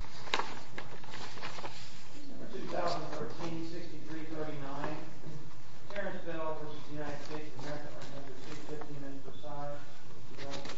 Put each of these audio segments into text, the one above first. America v. DFM United States U.S. Division of Defense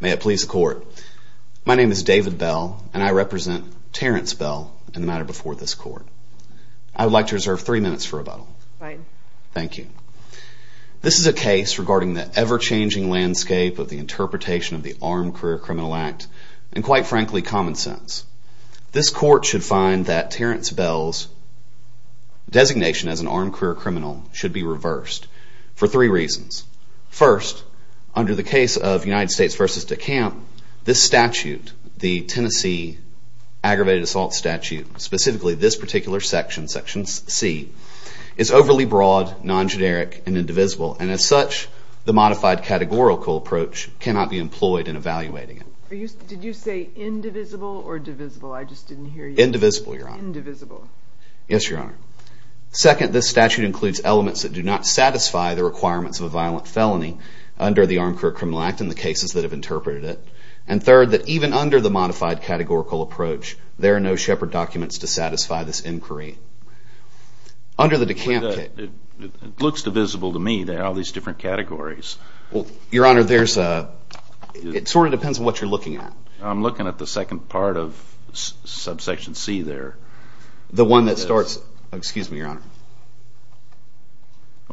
May it please the Court. My name is David Bell and I represent Terrence Bell and the matter before this Court. I would like to reserve three minutes for rebuttal. Thank you. This is a case regarding the ever-changing landscape of the interpretation of the Armed Career Criminal Act and, quite frankly, common sense. This Court should find that Terrence Bell's designation as an armed career criminal should be reversed for three reasons. First, under the case of United States v. DeCamp, this statute, the Tennessee Aggravated Assault Statute, specifically this particular section, Section C, is overly broad, non-generic and indivisible and, as such, the modified categorical approach cannot be employed in evaluating it. Did you say indivisible or divisible? I just didn't hear you. Indivisible, Your Honor. Indivisible. Yes, Your Honor. Second, this statute includes elements that do not satisfy the requirements of a violent felony under the Armed Career Criminal Act and the cases that have interpreted it. And third, that even under the modified categorical approach, there are no Shepard documents to satisfy this inquiry. Under the DeCamp case. It looks divisible to me. There are all these different categories. Your Honor, it sort of depends on what you're looking at. I'm looking at the second part of Subsection C there. The one that starts, excuse me, Your Honor.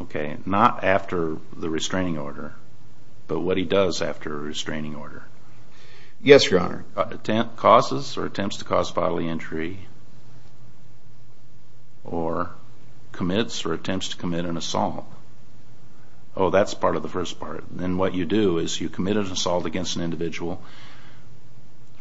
Okay, not after the restraining order, but what he does after a restraining order. Yes, Your Honor. Causes or attempts to cause bodily injury or commits or attempts to commit an assault. Oh, that's part of the first part. And what you do is you commit an assault against an individual.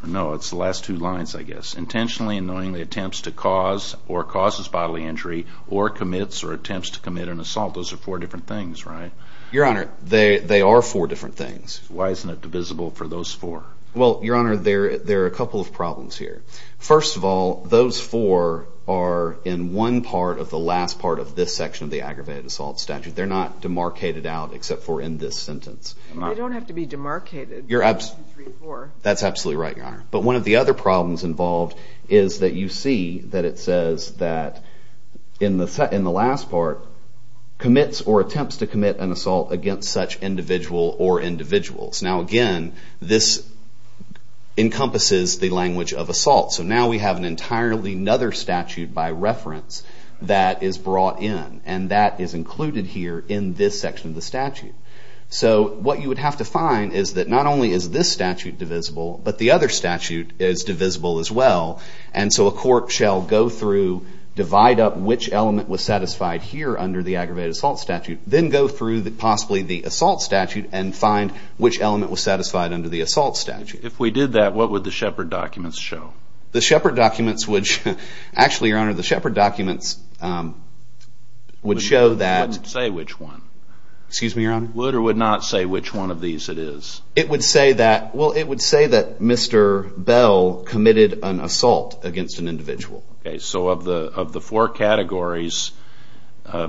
No, it's the last two lines, I guess. Intentionally and knowingly attempts to cause or causes bodily injury or commits or attempts to commit an assault. Those are four different things, right? Your Honor, they are four different things. Why isn't it divisible for those four? Well, Your Honor, there are a couple of problems here. First of all, those four are in one part of the last part of this section of the aggravated assault statute. They're not demarcated out except for in this sentence. They don't have to be demarcated. That's absolutely right, Your Honor. But one of the other problems involved is that you see that it says that in the last part commits or attempts to commit an assault against such individual or individuals. Now again, this encompasses the language of assault. So now we have an entirely another statute by reference that is brought in. And that is included here in this section of the statute. So what you would have to find is that not only is this statute divisible, but the other statute is divisible as well. And so a court shall go through, divide up which element was satisfied here under the aggravated assault statute, then go through possibly the assault statute and find which element was satisfied under the assault statute. If we did that, what would the Shepard documents show? The Shepard documents would show that Mr. Bell committed an assault against an individual. So of the four categories,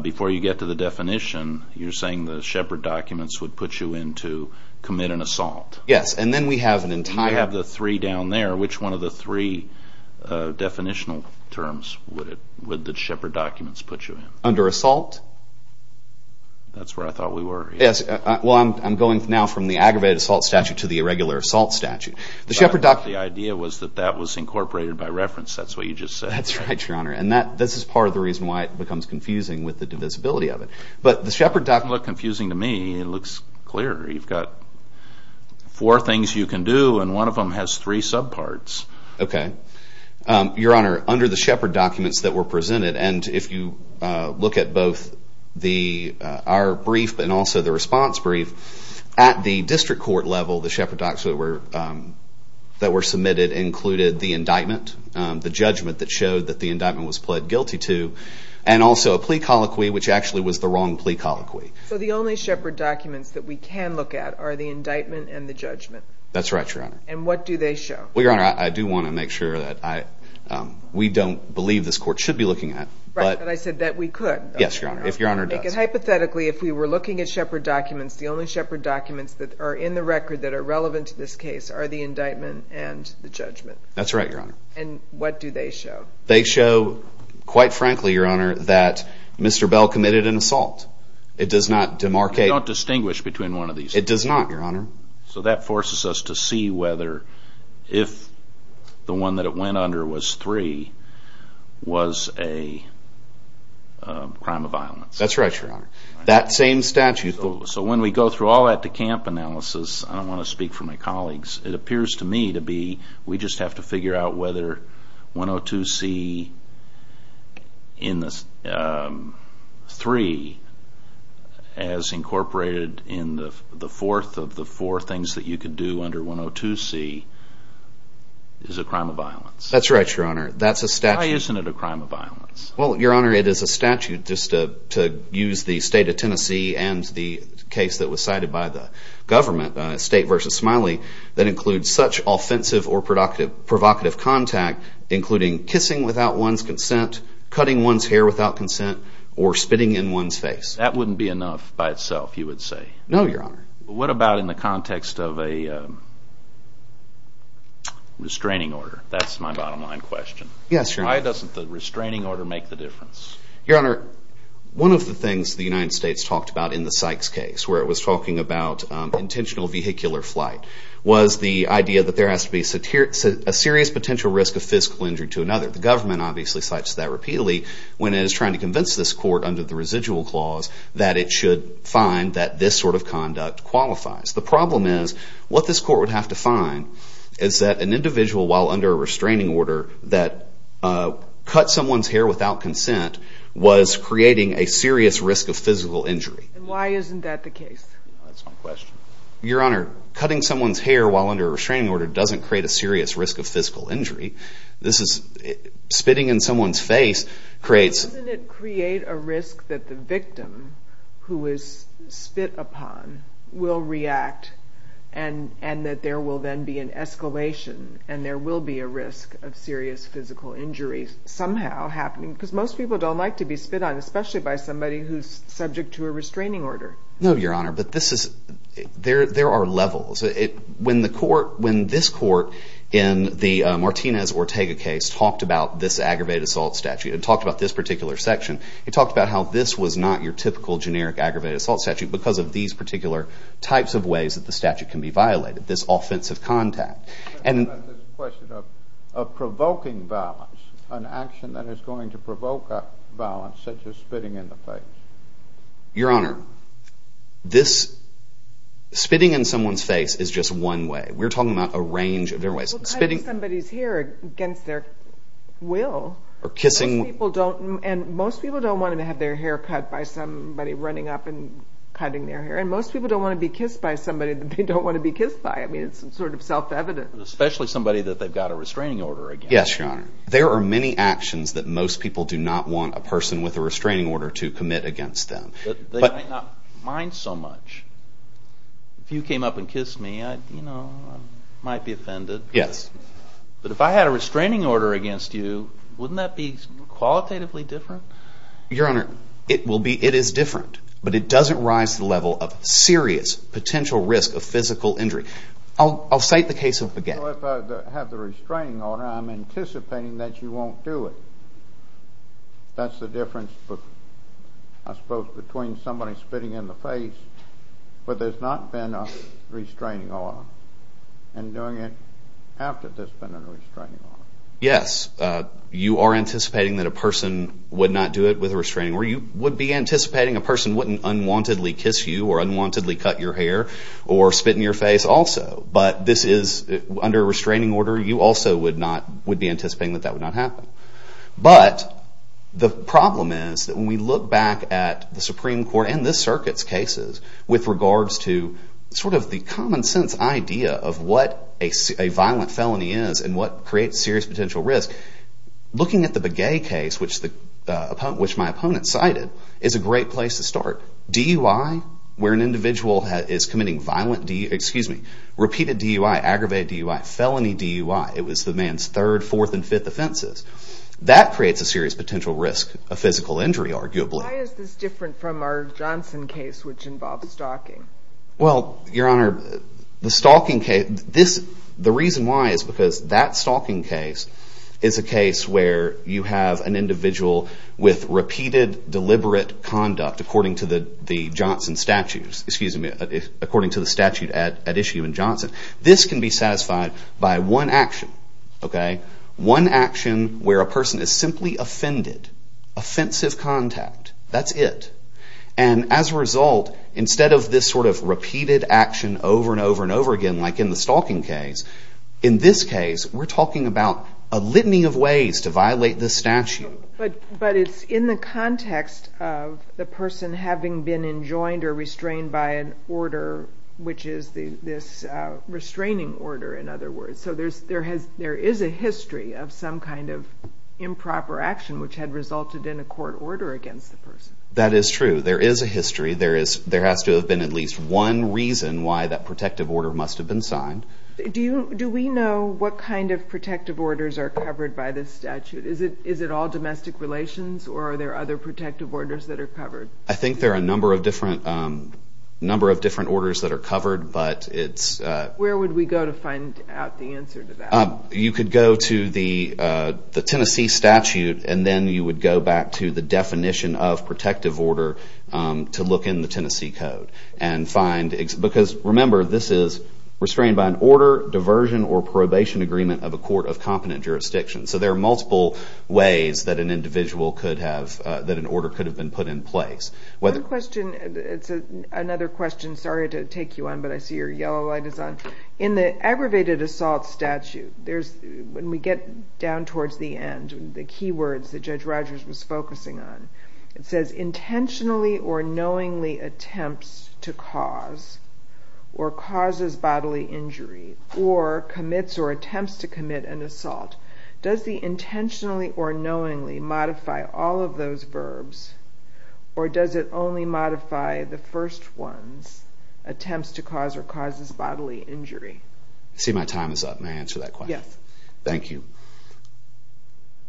before you get to the definition, you're saying the Shepard documents would put you in to commit an assault? Yes. And then we have an entire... You have the three down there. Which one of the three definitional terms would the Shepard documents put you in? Under assault? That's where I thought we were. Yes. Well, I'm going now from the aggravated assault statute to the irregular assault statute. The Shepard documents... The idea was that that was incorporated by reference. That's what you just said. That's right, Your Honor. And this is part of the reason why it becomes confusing with the divisibility of it. But the Shepard documents... It doesn't look confusing to me. It looks clear. You've got four things you can do, and one of them has three subparts. Okay. Your Honor, under the Shepard documents that were presented, and if you look at both our brief and also the response brief, at the district court level, the Shepard documents that were submitted included the indictment, the judgment that showed that the indictment was pled guilty to, and also a plea colloquy, which actually was the wrong plea colloquy. So the only Shepard documents that we can look at are the indictment and the judgment? That's right, Your Honor. And what do they show? Well, Your Honor, I do want to make sure that we don't believe this court should be looking at... Right, but I said that we could. Yes, Your Honor. If Your Honor does. Hypothetically, if we were looking at Shepard documents, the only Shepard documents that are in the record that are relevant to this case are the indictment and the judgment. That's right, Your Honor. And what do they show? They show, quite frankly, Your Honor, that Mr. Bell committed an assault. It does not demarcate... They don't distinguish between one of these. It does not, Your Honor. So that forces us to see whether, if the one that it went under was three, was a crime of violence. That's right, Your Honor. That same statute... So when we go through all that DeCamp analysis, I don't want to speak for my colleagues, it as incorporated in the fourth of the four things that you could do under 102C is a crime of violence. That's right, Your Honor. That's a statute... Why isn't it a crime of violence? Well, Your Honor, it is a statute, just to use the state of Tennessee and the case that was cited by the government, State v. Smiley, that includes such offensive or provocative contact including kissing without one's consent, cutting one's hair without consent, or spitting in one's face. That wouldn't be enough by itself, you would say? No, Your Honor. What about in the context of a restraining order? That's my bottom line question. Yes, Your Honor. Why doesn't the restraining order make the difference? Your Honor, one of the things the United States talked about in the Sykes case, where it was talking about intentional vehicular flight, was the idea that there has to be a serious potential risk of physical injury to another. The government obviously cites that repeatedly when it is trying to convince this court under the residual clause that it should find that this sort of conduct qualifies. The problem is, what this court would have to find is that an individual while under a restraining order that cut someone's hair without consent was creating a serious risk of physical injury. Why isn't that the case? That's my question. Your Honor, cutting someone's hair while under a restraining order doesn't create a serious risk of physical injury. Spitting in someone's face creates... A risk that the victim who is spit upon will react and that there will then be an escalation and there will be a risk of serious physical injury somehow happening. Most people don't like to be spit on, especially by somebody who is subject to a restraining order. No, Your Honor. There are levels. When this court in the Martinez-Ortega case talked about this aggravated assault statute and talked about this particular section, it talked about how this was not your typical generic aggravated assault statute because of these particular types of ways that the statute can be violated. This offensive contact. I'm talking about this question of provoking violence, an action that is going to provoke violence such as spitting in the face. Your Honor, spitting in someone's face is just one way. We're talking about a range of different ways. Well, cutting somebody's hair against their will. And most people don't want to have their hair cut by somebody running up and cutting their hair. And most people don't want to be kissed by somebody that they don't want to be kissed by. I mean, it's sort of self-evident. Especially somebody that they've got a restraining order against. Yes, Your Honor. There are many actions that most people do not want a person with a restraining order to commit against them. But they might not mind so much. If you came up and kissed me, I might be offended. Yes. But if I had a restraining order against you, wouldn't that be qualitatively different? Your Honor, it will be. It is different. But it doesn't rise to the level of serious potential risk of physical injury. I'll cite the case of Baguette. Well, if I have the restraining order, I'm anticipating that you won't do it. That's the difference, I suppose, between somebody spitting in the face, where there's not been a restraining order. And doing it after there's been a restraining order. Yes, you are anticipating that a person would not do it with a restraining order. You would be anticipating a person wouldn't unwontedly kiss you or unwontedly cut your hair or spit in your face also. But this is under a restraining order. You also would be anticipating that that would not happen. But the problem is that when we look back at the Supreme Court and this Circuit's cases with regards to sort of the common sense idea of what a violent felony is and what creates serious potential risk, looking at the Baguette case, which my opponent cited, is a great place to start. DUI, where an individual is committing violent DUI, excuse me, repeated DUI, aggravated DUI, felony DUI, it was the man's third, fourth, and fifth offenses. That creates a serious potential risk of physical injury, arguably. Why is this different from our Johnson case, which involved stalking? Well, Your Honor, the stalking case, the reason why is because that stalking case is a case where you have an individual with repeated deliberate conduct according to the Johnson statutes, excuse me, according to the statute at issue in Johnson. This can be satisfied by one action, okay? One action where a person is simply offended, offensive contact, that's it. And as a result, instead of this sort of repeated action over and over and over again, like in the stalking case, in this case, we're talking about a litany of ways to violate the statute. But it's in the context of the person having been enjoined or restrained by an order, which is this restraining order, in other words. So there is a history of some kind of improper action which had resulted in a court order against the person. That is true. There is a history. There has to have been at least one reason why that protective order must have been signed. Do we know what kind of protective orders are covered by this statute? Is it all domestic relations, or are there other protective orders that are covered? I think there are a number of different orders that are covered, but it's... Where would we go to find out the answer to that? You could go to the Tennessee statute, and then you would go back to the definition of protective order to look in the Tennessee code and find, because remember, this is restrained by an order, diversion, or probation agreement of a court of competent jurisdiction. So there are multiple ways that an individual could have, that an order could have been put in place. One question, it's another question, sorry to take you on, but I see your yellow light is on. In the aggravated assault statute, there's, when we get down towards the end, the key words that Judge Rogers was focusing on, it says, intentionally or knowingly attempts to cause or causes bodily injury or commits or attempts to commit an assault. Does the intentionally or knowingly modify all of those verbs, or does it only modify the first one, attempts to cause or causes bodily injury? See my time is up, may I answer that question? Yes. Thank you.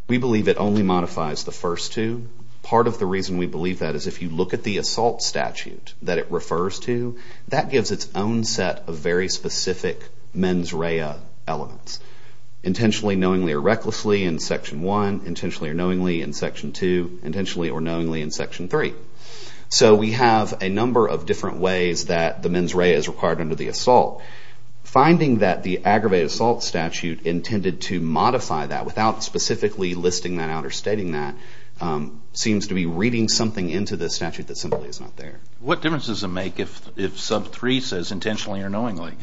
We believe it only modifies the first two. Part of the reason we believe that is if you look at the assault statute that it refers to, that gives its own set of very specific mens rea elements. Intentionally knowingly or recklessly in section one, intentionally or knowingly in section two, intentionally or knowingly in section three. So we have a number of different ways that the mens rea is required under the assault. Finding that the aggravated assault statute intended to modify that without specifically listing that out or stating that, seems to be reading something into the statute that simply is not there. What difference does it make if sub three says intentionally or knowingly?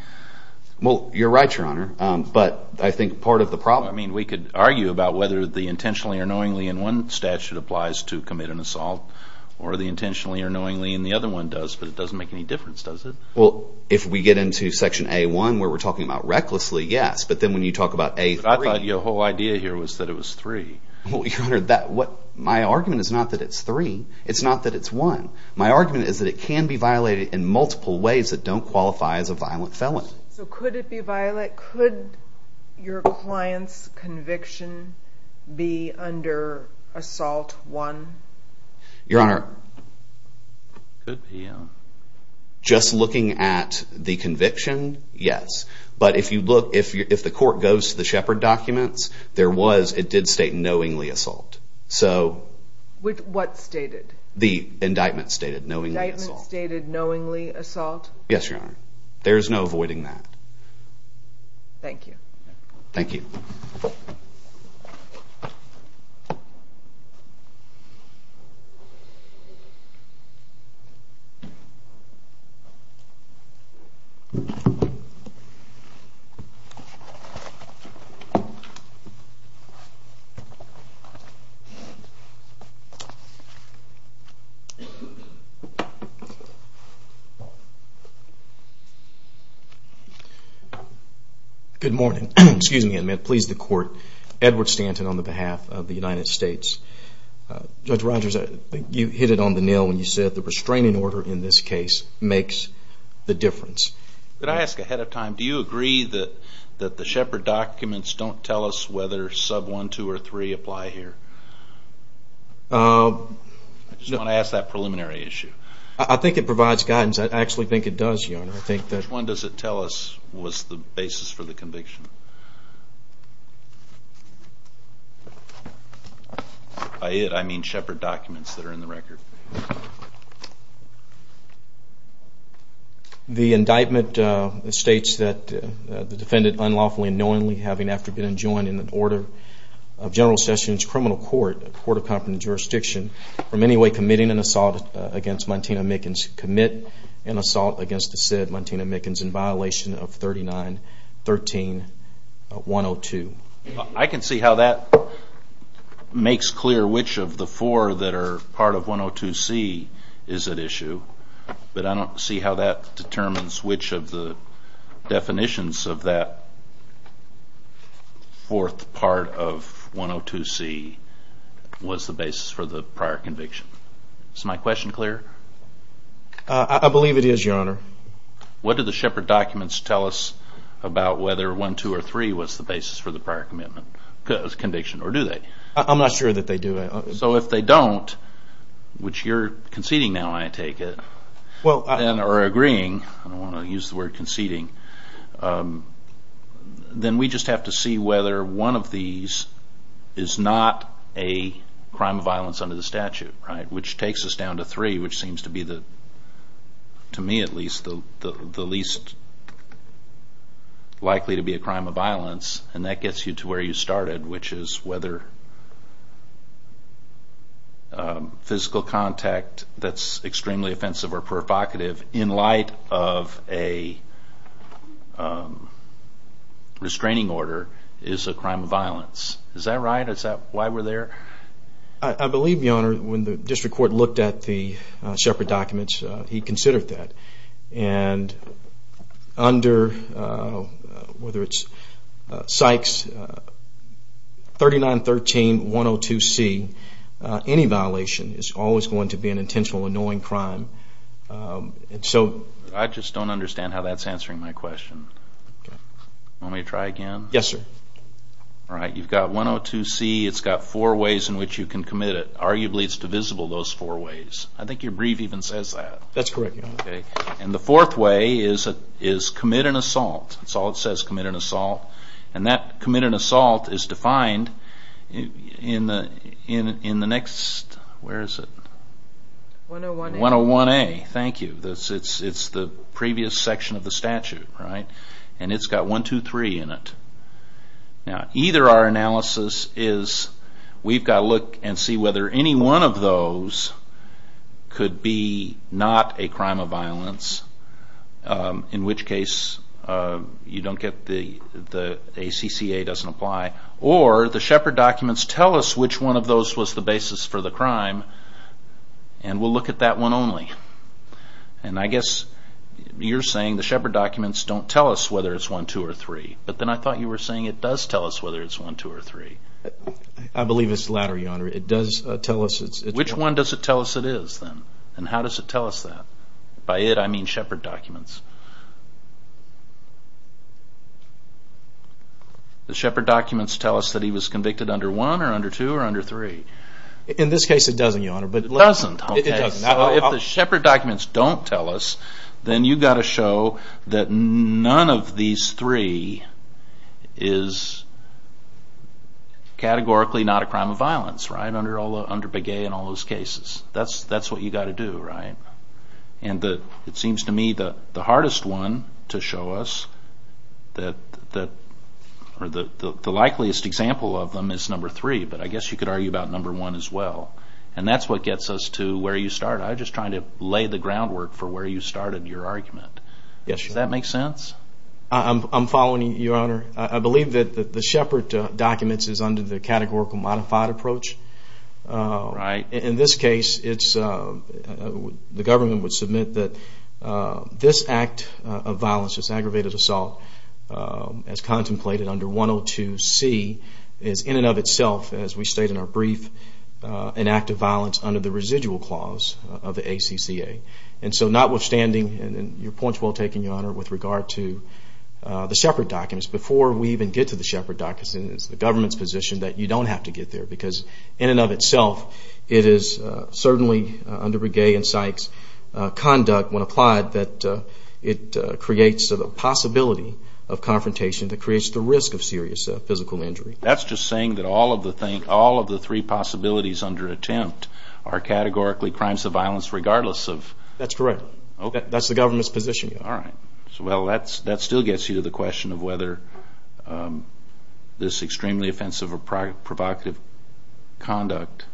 Well, you're right, your honor, but I think part of the problem. We could argue about whether the intentionally or knowingly in one statute applies to commit an assault or the intentionally or knowingly in the other one does, but it doesn't make any difference, does it? Well, if we get into section A1 where we're talking about recklessly, yes, but then when you talk about A3. But I thought your whole idea here was that it was three. Well, your honor, my argument is not that it's three. It's not that it's one. My argument is that it can be violated in multiple ways that don't qualify as a violent felon. So could it be violent? Could your client's conviction be under assault one? Your honor, just looking at the conviction, yes. But if you look, if the court goes to the Shepard documents, there was, it did state knowingly assault. So with what stated? The indictment stated knowingly assault. The indictment stated knowingly assault? Yes, your honor. There's no avoiding that. Thank you. Thank you. Good morning. Excuse me. I'm going to please the court. Edward Stanton on the behalf of the United States. Judge Rogers, I think you hit it on the nail when you said the restraining order in this case makes the difference. Could I ask ahead of time, do you agree that the Shepard documents don't tell us whether sub one, two, or three apply here? I just want to ask that preliminary issue. I think it provides guidance. I actually think it does, your honor. Which one does it tell us was the basis for the conviction? By it, I mean Shepard documents that are in the record. The indictment states that the defendant unlawfully and knowingly, having after been enjoined in an order of General Sessions Criminal Court, a court of competent jurisdiction, from any committing an assault against Montana Mickens, commit an assault against the said Montana Mickens in violation of 39-13-102. I can see how that makes clear which of the four that are part of 102C is at issue, but I don't see how that determines which of the definitions of that fourth part of 102C was the basis for the prior conviction. Is my question clear? I believe it is, your honor. What do the Shepard documents tell us about whether one, two, or three was the basis for the prior conviction, or do they? I'm not sure that they do. So if they don't, which you're conceding now, I take it, and are agreeing, I don't want is not a crime of violence under the statute, which takes us down to three, which seems to be, to me at least, the least likely to be a crime of violence, and that gets you to where you started, which is whether physical contact that's extremely offensive or provocative in light of a restraining order is a crime of violence. Is that right? Is that why we're there? I believe, your honor, when the district court looked at the Shepard documents, he considered that. And under, whether it's Sykes 3913-102C, any violation is always going to be an intentional annoying crime. I just don't understand how that's answering my question. Okay. Want me to try again? Yes, sir. All right. You've got 102C. It's got four ways in which you can commit it. Arguably, it's divisible those four ways. I think your brief even says that. That's correct, your honor. Okay. And the fourth way is commit an assault. That's all it says, commit an assault. And that commit an assault is defined in the next, where is it? 101A. 101A. Thank you. It's the previous section of the statute, right? And it's got 1, 2, 3 in it. Now either our analysis is, we've got to look and see whether any one of those could be not a crime of violence, in which case you don't get the, the ACCA doesn't apply, or the Shepard documents tell us which one of those was the basis for the crime, and we'll look at that one only. And I guess you're saying the Shepard documents don't tell us whether it's 1, 2, or 3. But then I thought you were saying it does tell us whether it's 1, 2, or 3. I believe it's the latter, your honor. It does tell us it's... Which one does it tell us it is, then? And how does it tell us that? By it, I mean Shepard documents. The Shepard documents tell us that he was convicted under 1, or under 2, or under 3. In this case, it doesn't, your honor. It doesn't? It doesn't. So if the Shepard documents don't tell us, then you've got to show that none of these three is categorically not a crime of violence, right, under Begay and all those cases. That's what you've got to do, right? And it seems to me that the hardest one to show us, or the likeliest example of them is number 3, but I guess you could argue about number 1 as well. And that's what gets us to where you start. I'm just trying to lay the groundwork for where you started your argument. Yes, your honor. Does that make sense? I'm following you, your honor. I believe that the Shepard documents is under the categorical modified approach. In this case, the government would submit that this act of violence, this aggravated inactive violence under the residual clause of the ACCA. And so notwithstanding, and your point's well taken, your honor, with regard to the Shepard documents, before we even get to the Shepard documents, it's the government's position that you don't have to get there, because in and of itself, it is certainly under Begay and Sykes' conduct, when applied, that it creates a possibility of confrontation that creates the risk of serious physical injury. That's just saying that all of the three possibilities under attempt are categorically crimes of violence regardless of... That's correct. That's the government's position. All right. So, well, that still gets you to the question of whether this extremely offensive or provocative conduct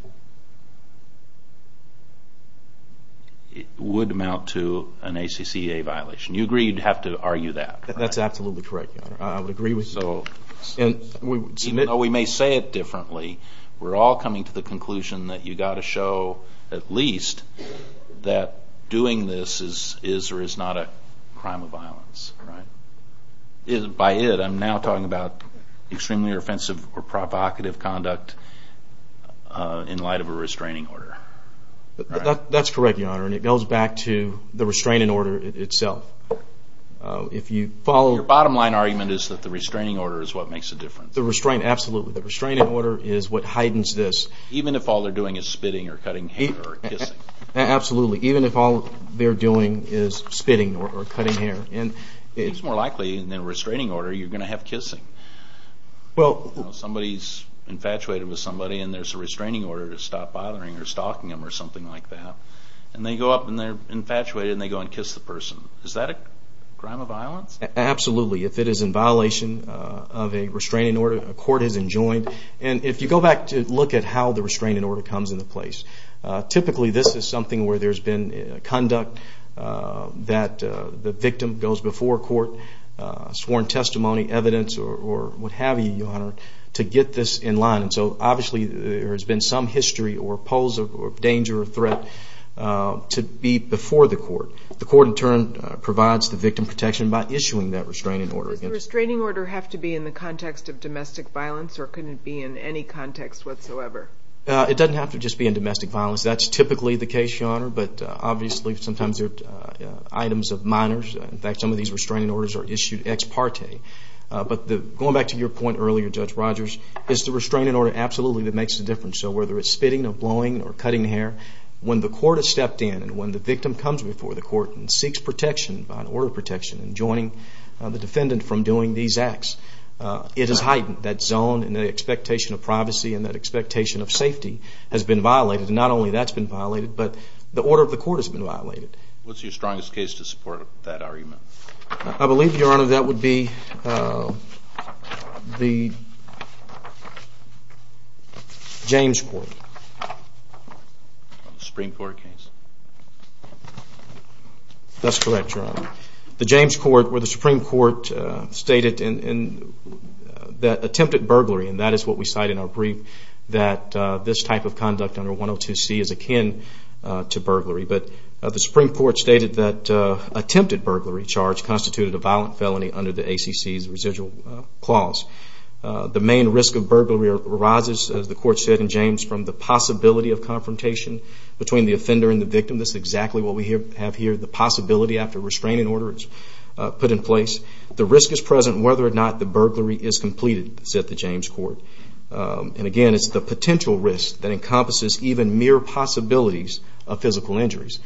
would amount to an ACCA violation. You agree you'd have to argue that, correct? That's absolutely correct, your honor. I would agree with you. So even though we may say it differently, we're all coming to the conclusion that you've got to show at least that doing this is or is not a crime of violence, right? By it, I'm now talking about extremely offensive or provocative conduct in light of a restraining order. That's correct, your honor, and it goes back to the restraining order itself. If you follow... So your argument is that the restraining order is what makes a difference? The restraint, absolutely. The restraining order is what heightens this. Even if all they're doing is spitting or cutting hair or kissing? Absolutely. Even if all they're doing is spitting or cutting hair and... It's more likely in a restraining order you're going to have kissing. Somebody's infatuated with somebody and there's a restraining order to stop bothering or stalking them or something like that, and they go up and they're infatuated and they go and kiss the person. Is that a crime of violence? Absolutely. If it is in violation of a restraining order, a court has enjoined, and if you go back to look at how the restraining order comes into place, typically this is something where there's been conduct that the victim goes before court, sworn testimony, evidence, or what have you, your honor, to get this in line, and so obviously there has been some history or pose of danger or threat to be before the court. The court in turn provides the victim protection by issuing that restraining order. Does the restraining order have to be in the context of domestic violence or can it be in any context whatsoever? It doesn't have to just be in domestic violence. That's typically the case, your honor, but obviously sometimes there are items of minors. In fact, some of these restraining orders are issued ex parte. But going back to your point earlier, Judge Rogers, it's the restraining order absolutely that makes the difference. So whether it's spitting or blowing or cutting hair, when the court has stepped in and when the victim comes before the court and seeks protection by an order of protection and joining the defendant from doing these acts, it is heightened. That zone and that expectation of privacy and that expectation of safety has been violated. Not only that's been violated, but the order of the court has been violated. What's your strongest case to support that argument? I believe, your honor, that would be the James Court. Supreme Court case? That's correct, your honor. The James Court where the Supreme Court stated that attempted burglary, and that is what we cite in our brief, that this type of conduct under 102C is akin to burglary. But the Supreme Court stated that attempted burglary charge constituted a violent felony under the ACC's residual clause. The main risk of burglary arises, as the court said in James, from the possibility of confrontation between the offender and the victim. That's exactly what we have here, the possibility after restraining order is put in place. The risk is present whether or not the burglary is completed, said the James Court. And again, it's the potential risk that encompasses even mere possibilities of physical injuries.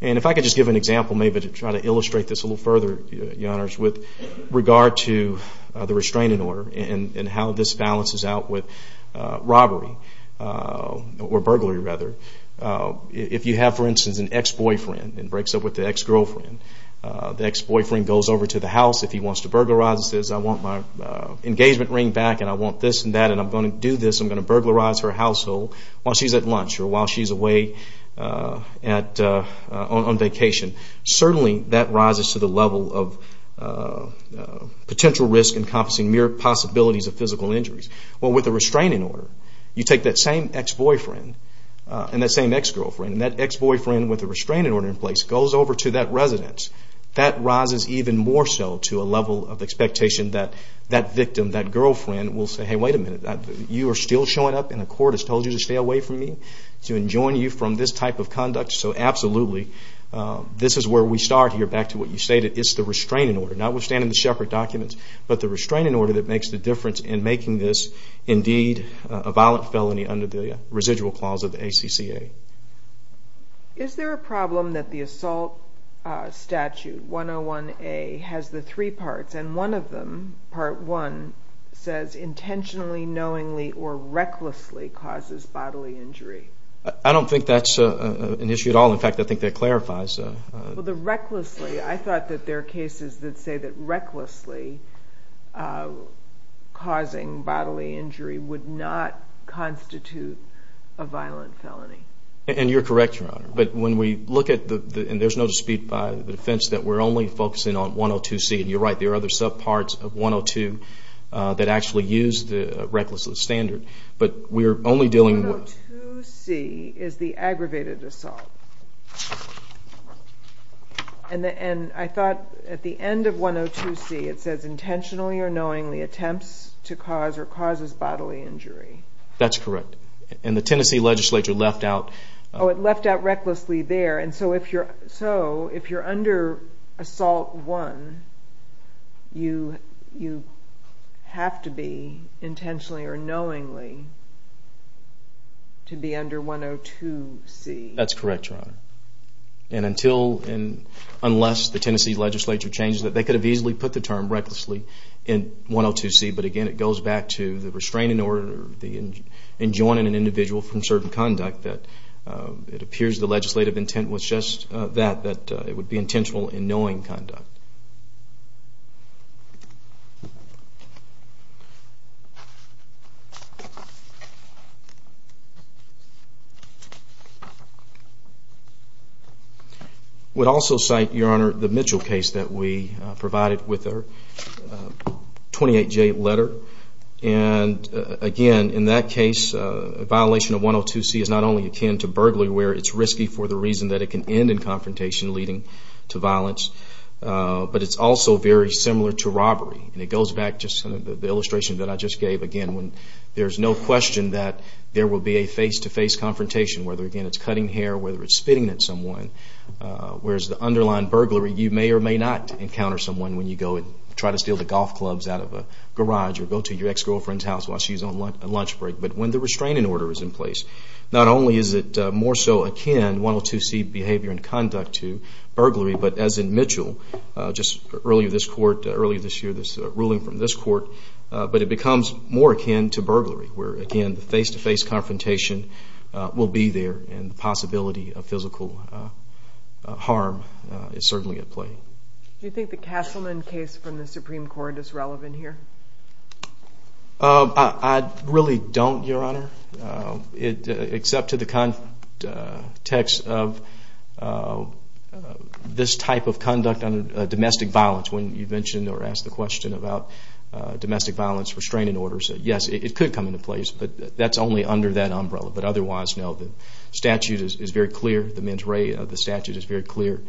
And if I could just give an example, maybe to try to illustrate this a little further, your honors, with regard to the restraining order and how this balances out with robbery, or burglary rather. If you have, for instance, an ex-boyfriend and breaks up with the ex-girlfriend, the ex-boyfriend goes over to the house if he wants to burglarize and says, I want my engagement ring back, and I want this and that, and I'm going to do this, I'm going to burglarize her household while she's at lunch or while she's away on vacation. Certainly, that rises to the level of potential risk encompassing mere possibilities of physical injuries. Well, with the restraining order, you take that same ex-boyfriend and that same ex-girlfriend and that ex-boyfriend with the restraining order in place goes over to that residence. That rises even more so to a level of expectation that that victim, that girlfriend, will say, hey, wait a minute, you are still showing up and the court has told you to stay away from me, to enjoin you from this type of conduct? So absolutely, this is where we start here, back to what you stated, it's the restraining order, notwithstanding the Shepard documents, but the restraining order that makes the difference in making this, indeed, a violent felony under the residual clause of the ACCA. Is there a problem that the assault statute 101A has the three parts and one of them, part one, says intentionally, knowingly, or recklessly causes bodily injury? I don't think that's an issue at all. In fact, I think that clarifies. Well, the recklessly, I thought that there are cases that say that recklessly causing bodily injury would not constitute a violent felony. And you're correct, Your Honor. But when we look at the, and there's no dispute by the defense that we're only focusing on 102C, and you're right, there are other subparts of 102 that actually use the recklessly standard, but we're only dealing with... 102C is the aggravated assault. And I thought at the end of 102C it says intentionally or knowingly attempts to cause or causes bodily injury. That's correct. And the Tennessee legislature left out... Oh, it left out recklessly there, and so if you're under assault one, you have to be intentionally or knowingly to be under 102C. That's correct, Your Honor. And until, unless the Tennessee legislature changes it, they could have easily put the to the restraining order, enjoining an individual from certain conduct that it appears the legislative intent was just that, that it would be intentional in knowing conduct. I would also cite, Your Honor, the Mitchell case that we provided with a 28J letter. And again, in that case, a violation of 102C is not only akin to burglary where it's risky for the reason that it can end in confrontation leading to violence, but it's also very similar to robbery. And it goes back to the illustration that I just gave, again, when there's no question that there will be a face-to-face confrontation, whether, again, it's cutting hair, whether it's spitting at someone, whereas the underlying burglary, you may or may not encounter someone when you go and try to steal the golf clubs out of a garage or go to your ex-girlfriend's house while she's on lunch break. But when the restraining order is in place, not only is it more so akin, 102C behavior and conduct to burglary, but as in Mitchell, just earlier this court, earlier this year, this ruling from this court, but it becomes more akin to burglary where, again, the face-to-face confrontation will be there and the possibility of physical harm is certainly at play. Do you think the Castleman case from the Supreme Court is relevant here? I really don't, Your Honor, except to the context of this type of conduct under domestic violence. When you mentioned or asked the question about domestic violence restraining orders, yes, it could come into place, but that's only under that umbrella. But otherwise, no, the statute is very clear, the men's rate of the statute is very clear,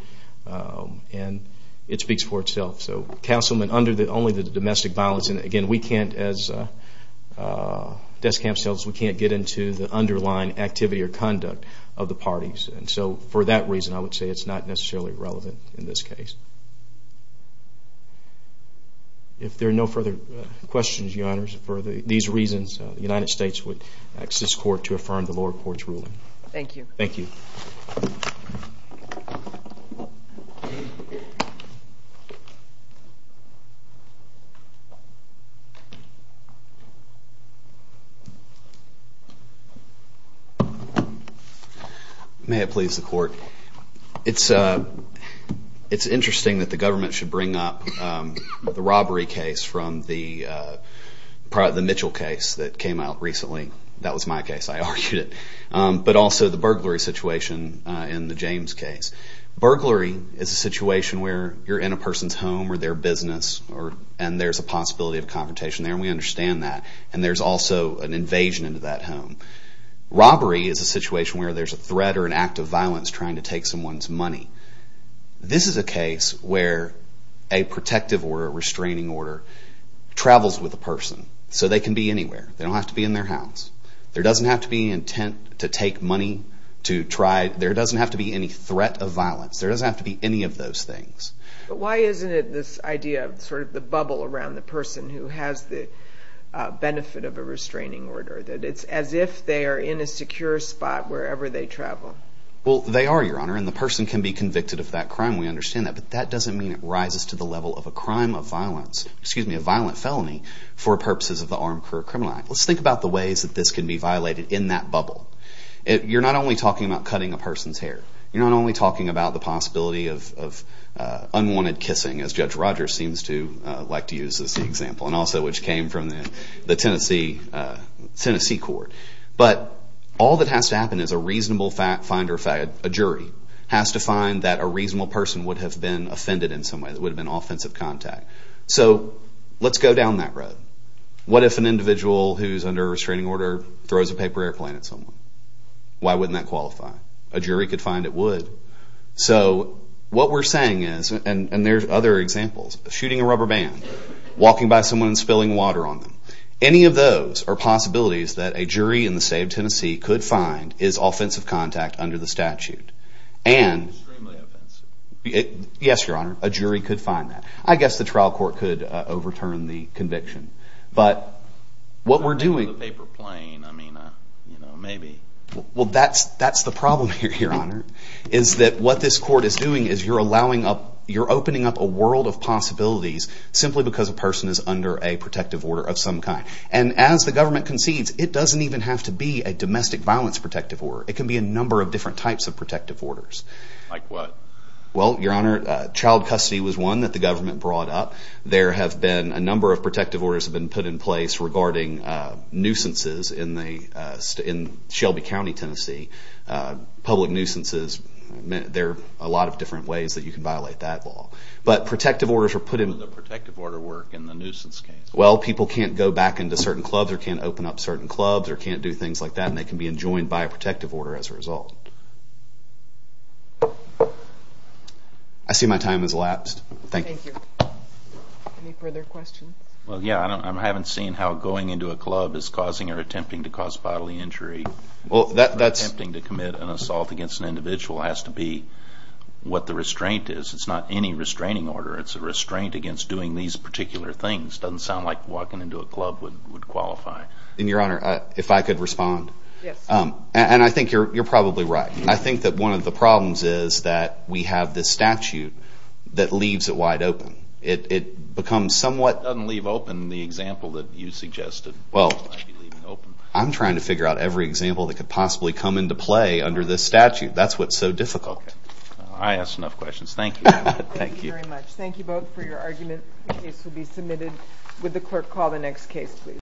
and it speaks for itself. So, Castleman, under only the domestic violence, and again, we can't, as death camp cells, we can't get into the underlying activity or conduct of the parties. And so, for that reason, I would say it's not necessarily relevant in this case. If there are no further questions, Your Honors, for these reasons, the United States would ask this court to affirm the lower court's ruling. Thank you. Thank you. May it please the court. It's interesting that the government should bring up the robbery case from the Mitchell case that came out recently. That was my case. I argued it. But also the burglary situation in the James case. Burglary is a situation where you're in a person's home or their business, and there's a possibility of confrontation there, and we understand that. And there's also an invasion into that home. Robbery is a situation where there's a threat or an act of violence trying to take someone's money. This is a case where a protective order, a restraining order, travels with a person. So they can be anywhere. They don't have to be in their house. There doesn't have to be any intent to take money to try, there doesn't have to be any threat of violence. There doesn't have to be any of those things. Why isn't it this idea of sort of the bubble around the person who has the benefit of a restraining order, that it's as if they are in a secure spot wherever they travel? Well, they are, Your Honor, and the person can be convicted of that crime. We understand that. But that doesn't mean it rises to the level of a crime of violence, excuse me, a violent felony for purposes of the Armed Career Criminal Act. Let's think about the ways that this can be violated in that bubble. You're not only talking about cutting a person's hair. You're not only talking about the possibility of unwanted kissing, as Judge Rogers seems to like to use as the example, and also which came from the Tennessee court. But all that has to happen is a reasonable finder, a jury, has to find that a reasonable person would have been offended in some way, that would have been offensive contact. So let's go down that road. What if an individual who's under a restraining order throws a paper airplane at someone? Why wouldn't that qualify? A jury could find it would. So what we're saying is, and there's other examples, shooting a rubber band, walking by someone and spilling water on them. Any of those are possibilities that a jury in the state of Tennessee could find is offensive contact under the statute. And yes, Your Honor, a jury could find that. I guess the trial court could overturn the conviction. But what we're doing- The problem here, Your Honor, is that what this court is doing is you're opening up a world of possibilities simply because a person is under a protective order of some kind. And as the government concedes, it doesn't even have to be a domestic violence protective order. It can be a number of different types of protective orders. Like what? Well, Your Honor, child custody was one that the government brought up. There have been a number of protective orders have been put in place regarding nuisances in Shelby County, Tennessee. Public nuisances, there are a lot of different ways that you can violate that law. But protective orders are put in- But how does the protective order work in the nuisance case? Well, people can't go back into certain clubs or can't open up certain clubs or can't do things like that. And they can be enjoined by a protective order as a result. I see my time has elapsed. Thank you. Thank you. Any further questions? Well, yeah, I haven't seen how going into a club is causing or attempting to cause bodily injury. Well, that's- Or attempting to commit an assault against an individual has to be what the restraint is. It's not any restraining order. It's a restraint against doing these particular things. It doesn't sound like walking into a club would qualify. And, Your Honor, if I could respond. Yes. And I think you're probably right. I think that one of the problems is that we have this statute that leaves it wide open. It becomes somewhat- It doesn't leave open the example that you suggested. Well, I'm trying to figure out every example that could possibly come into play under this statute. That's what's so difficult. Okay. I asked enough questions. Thank you. Thank you. Thank you very much. Thank you both for your argument. The case will be submitted.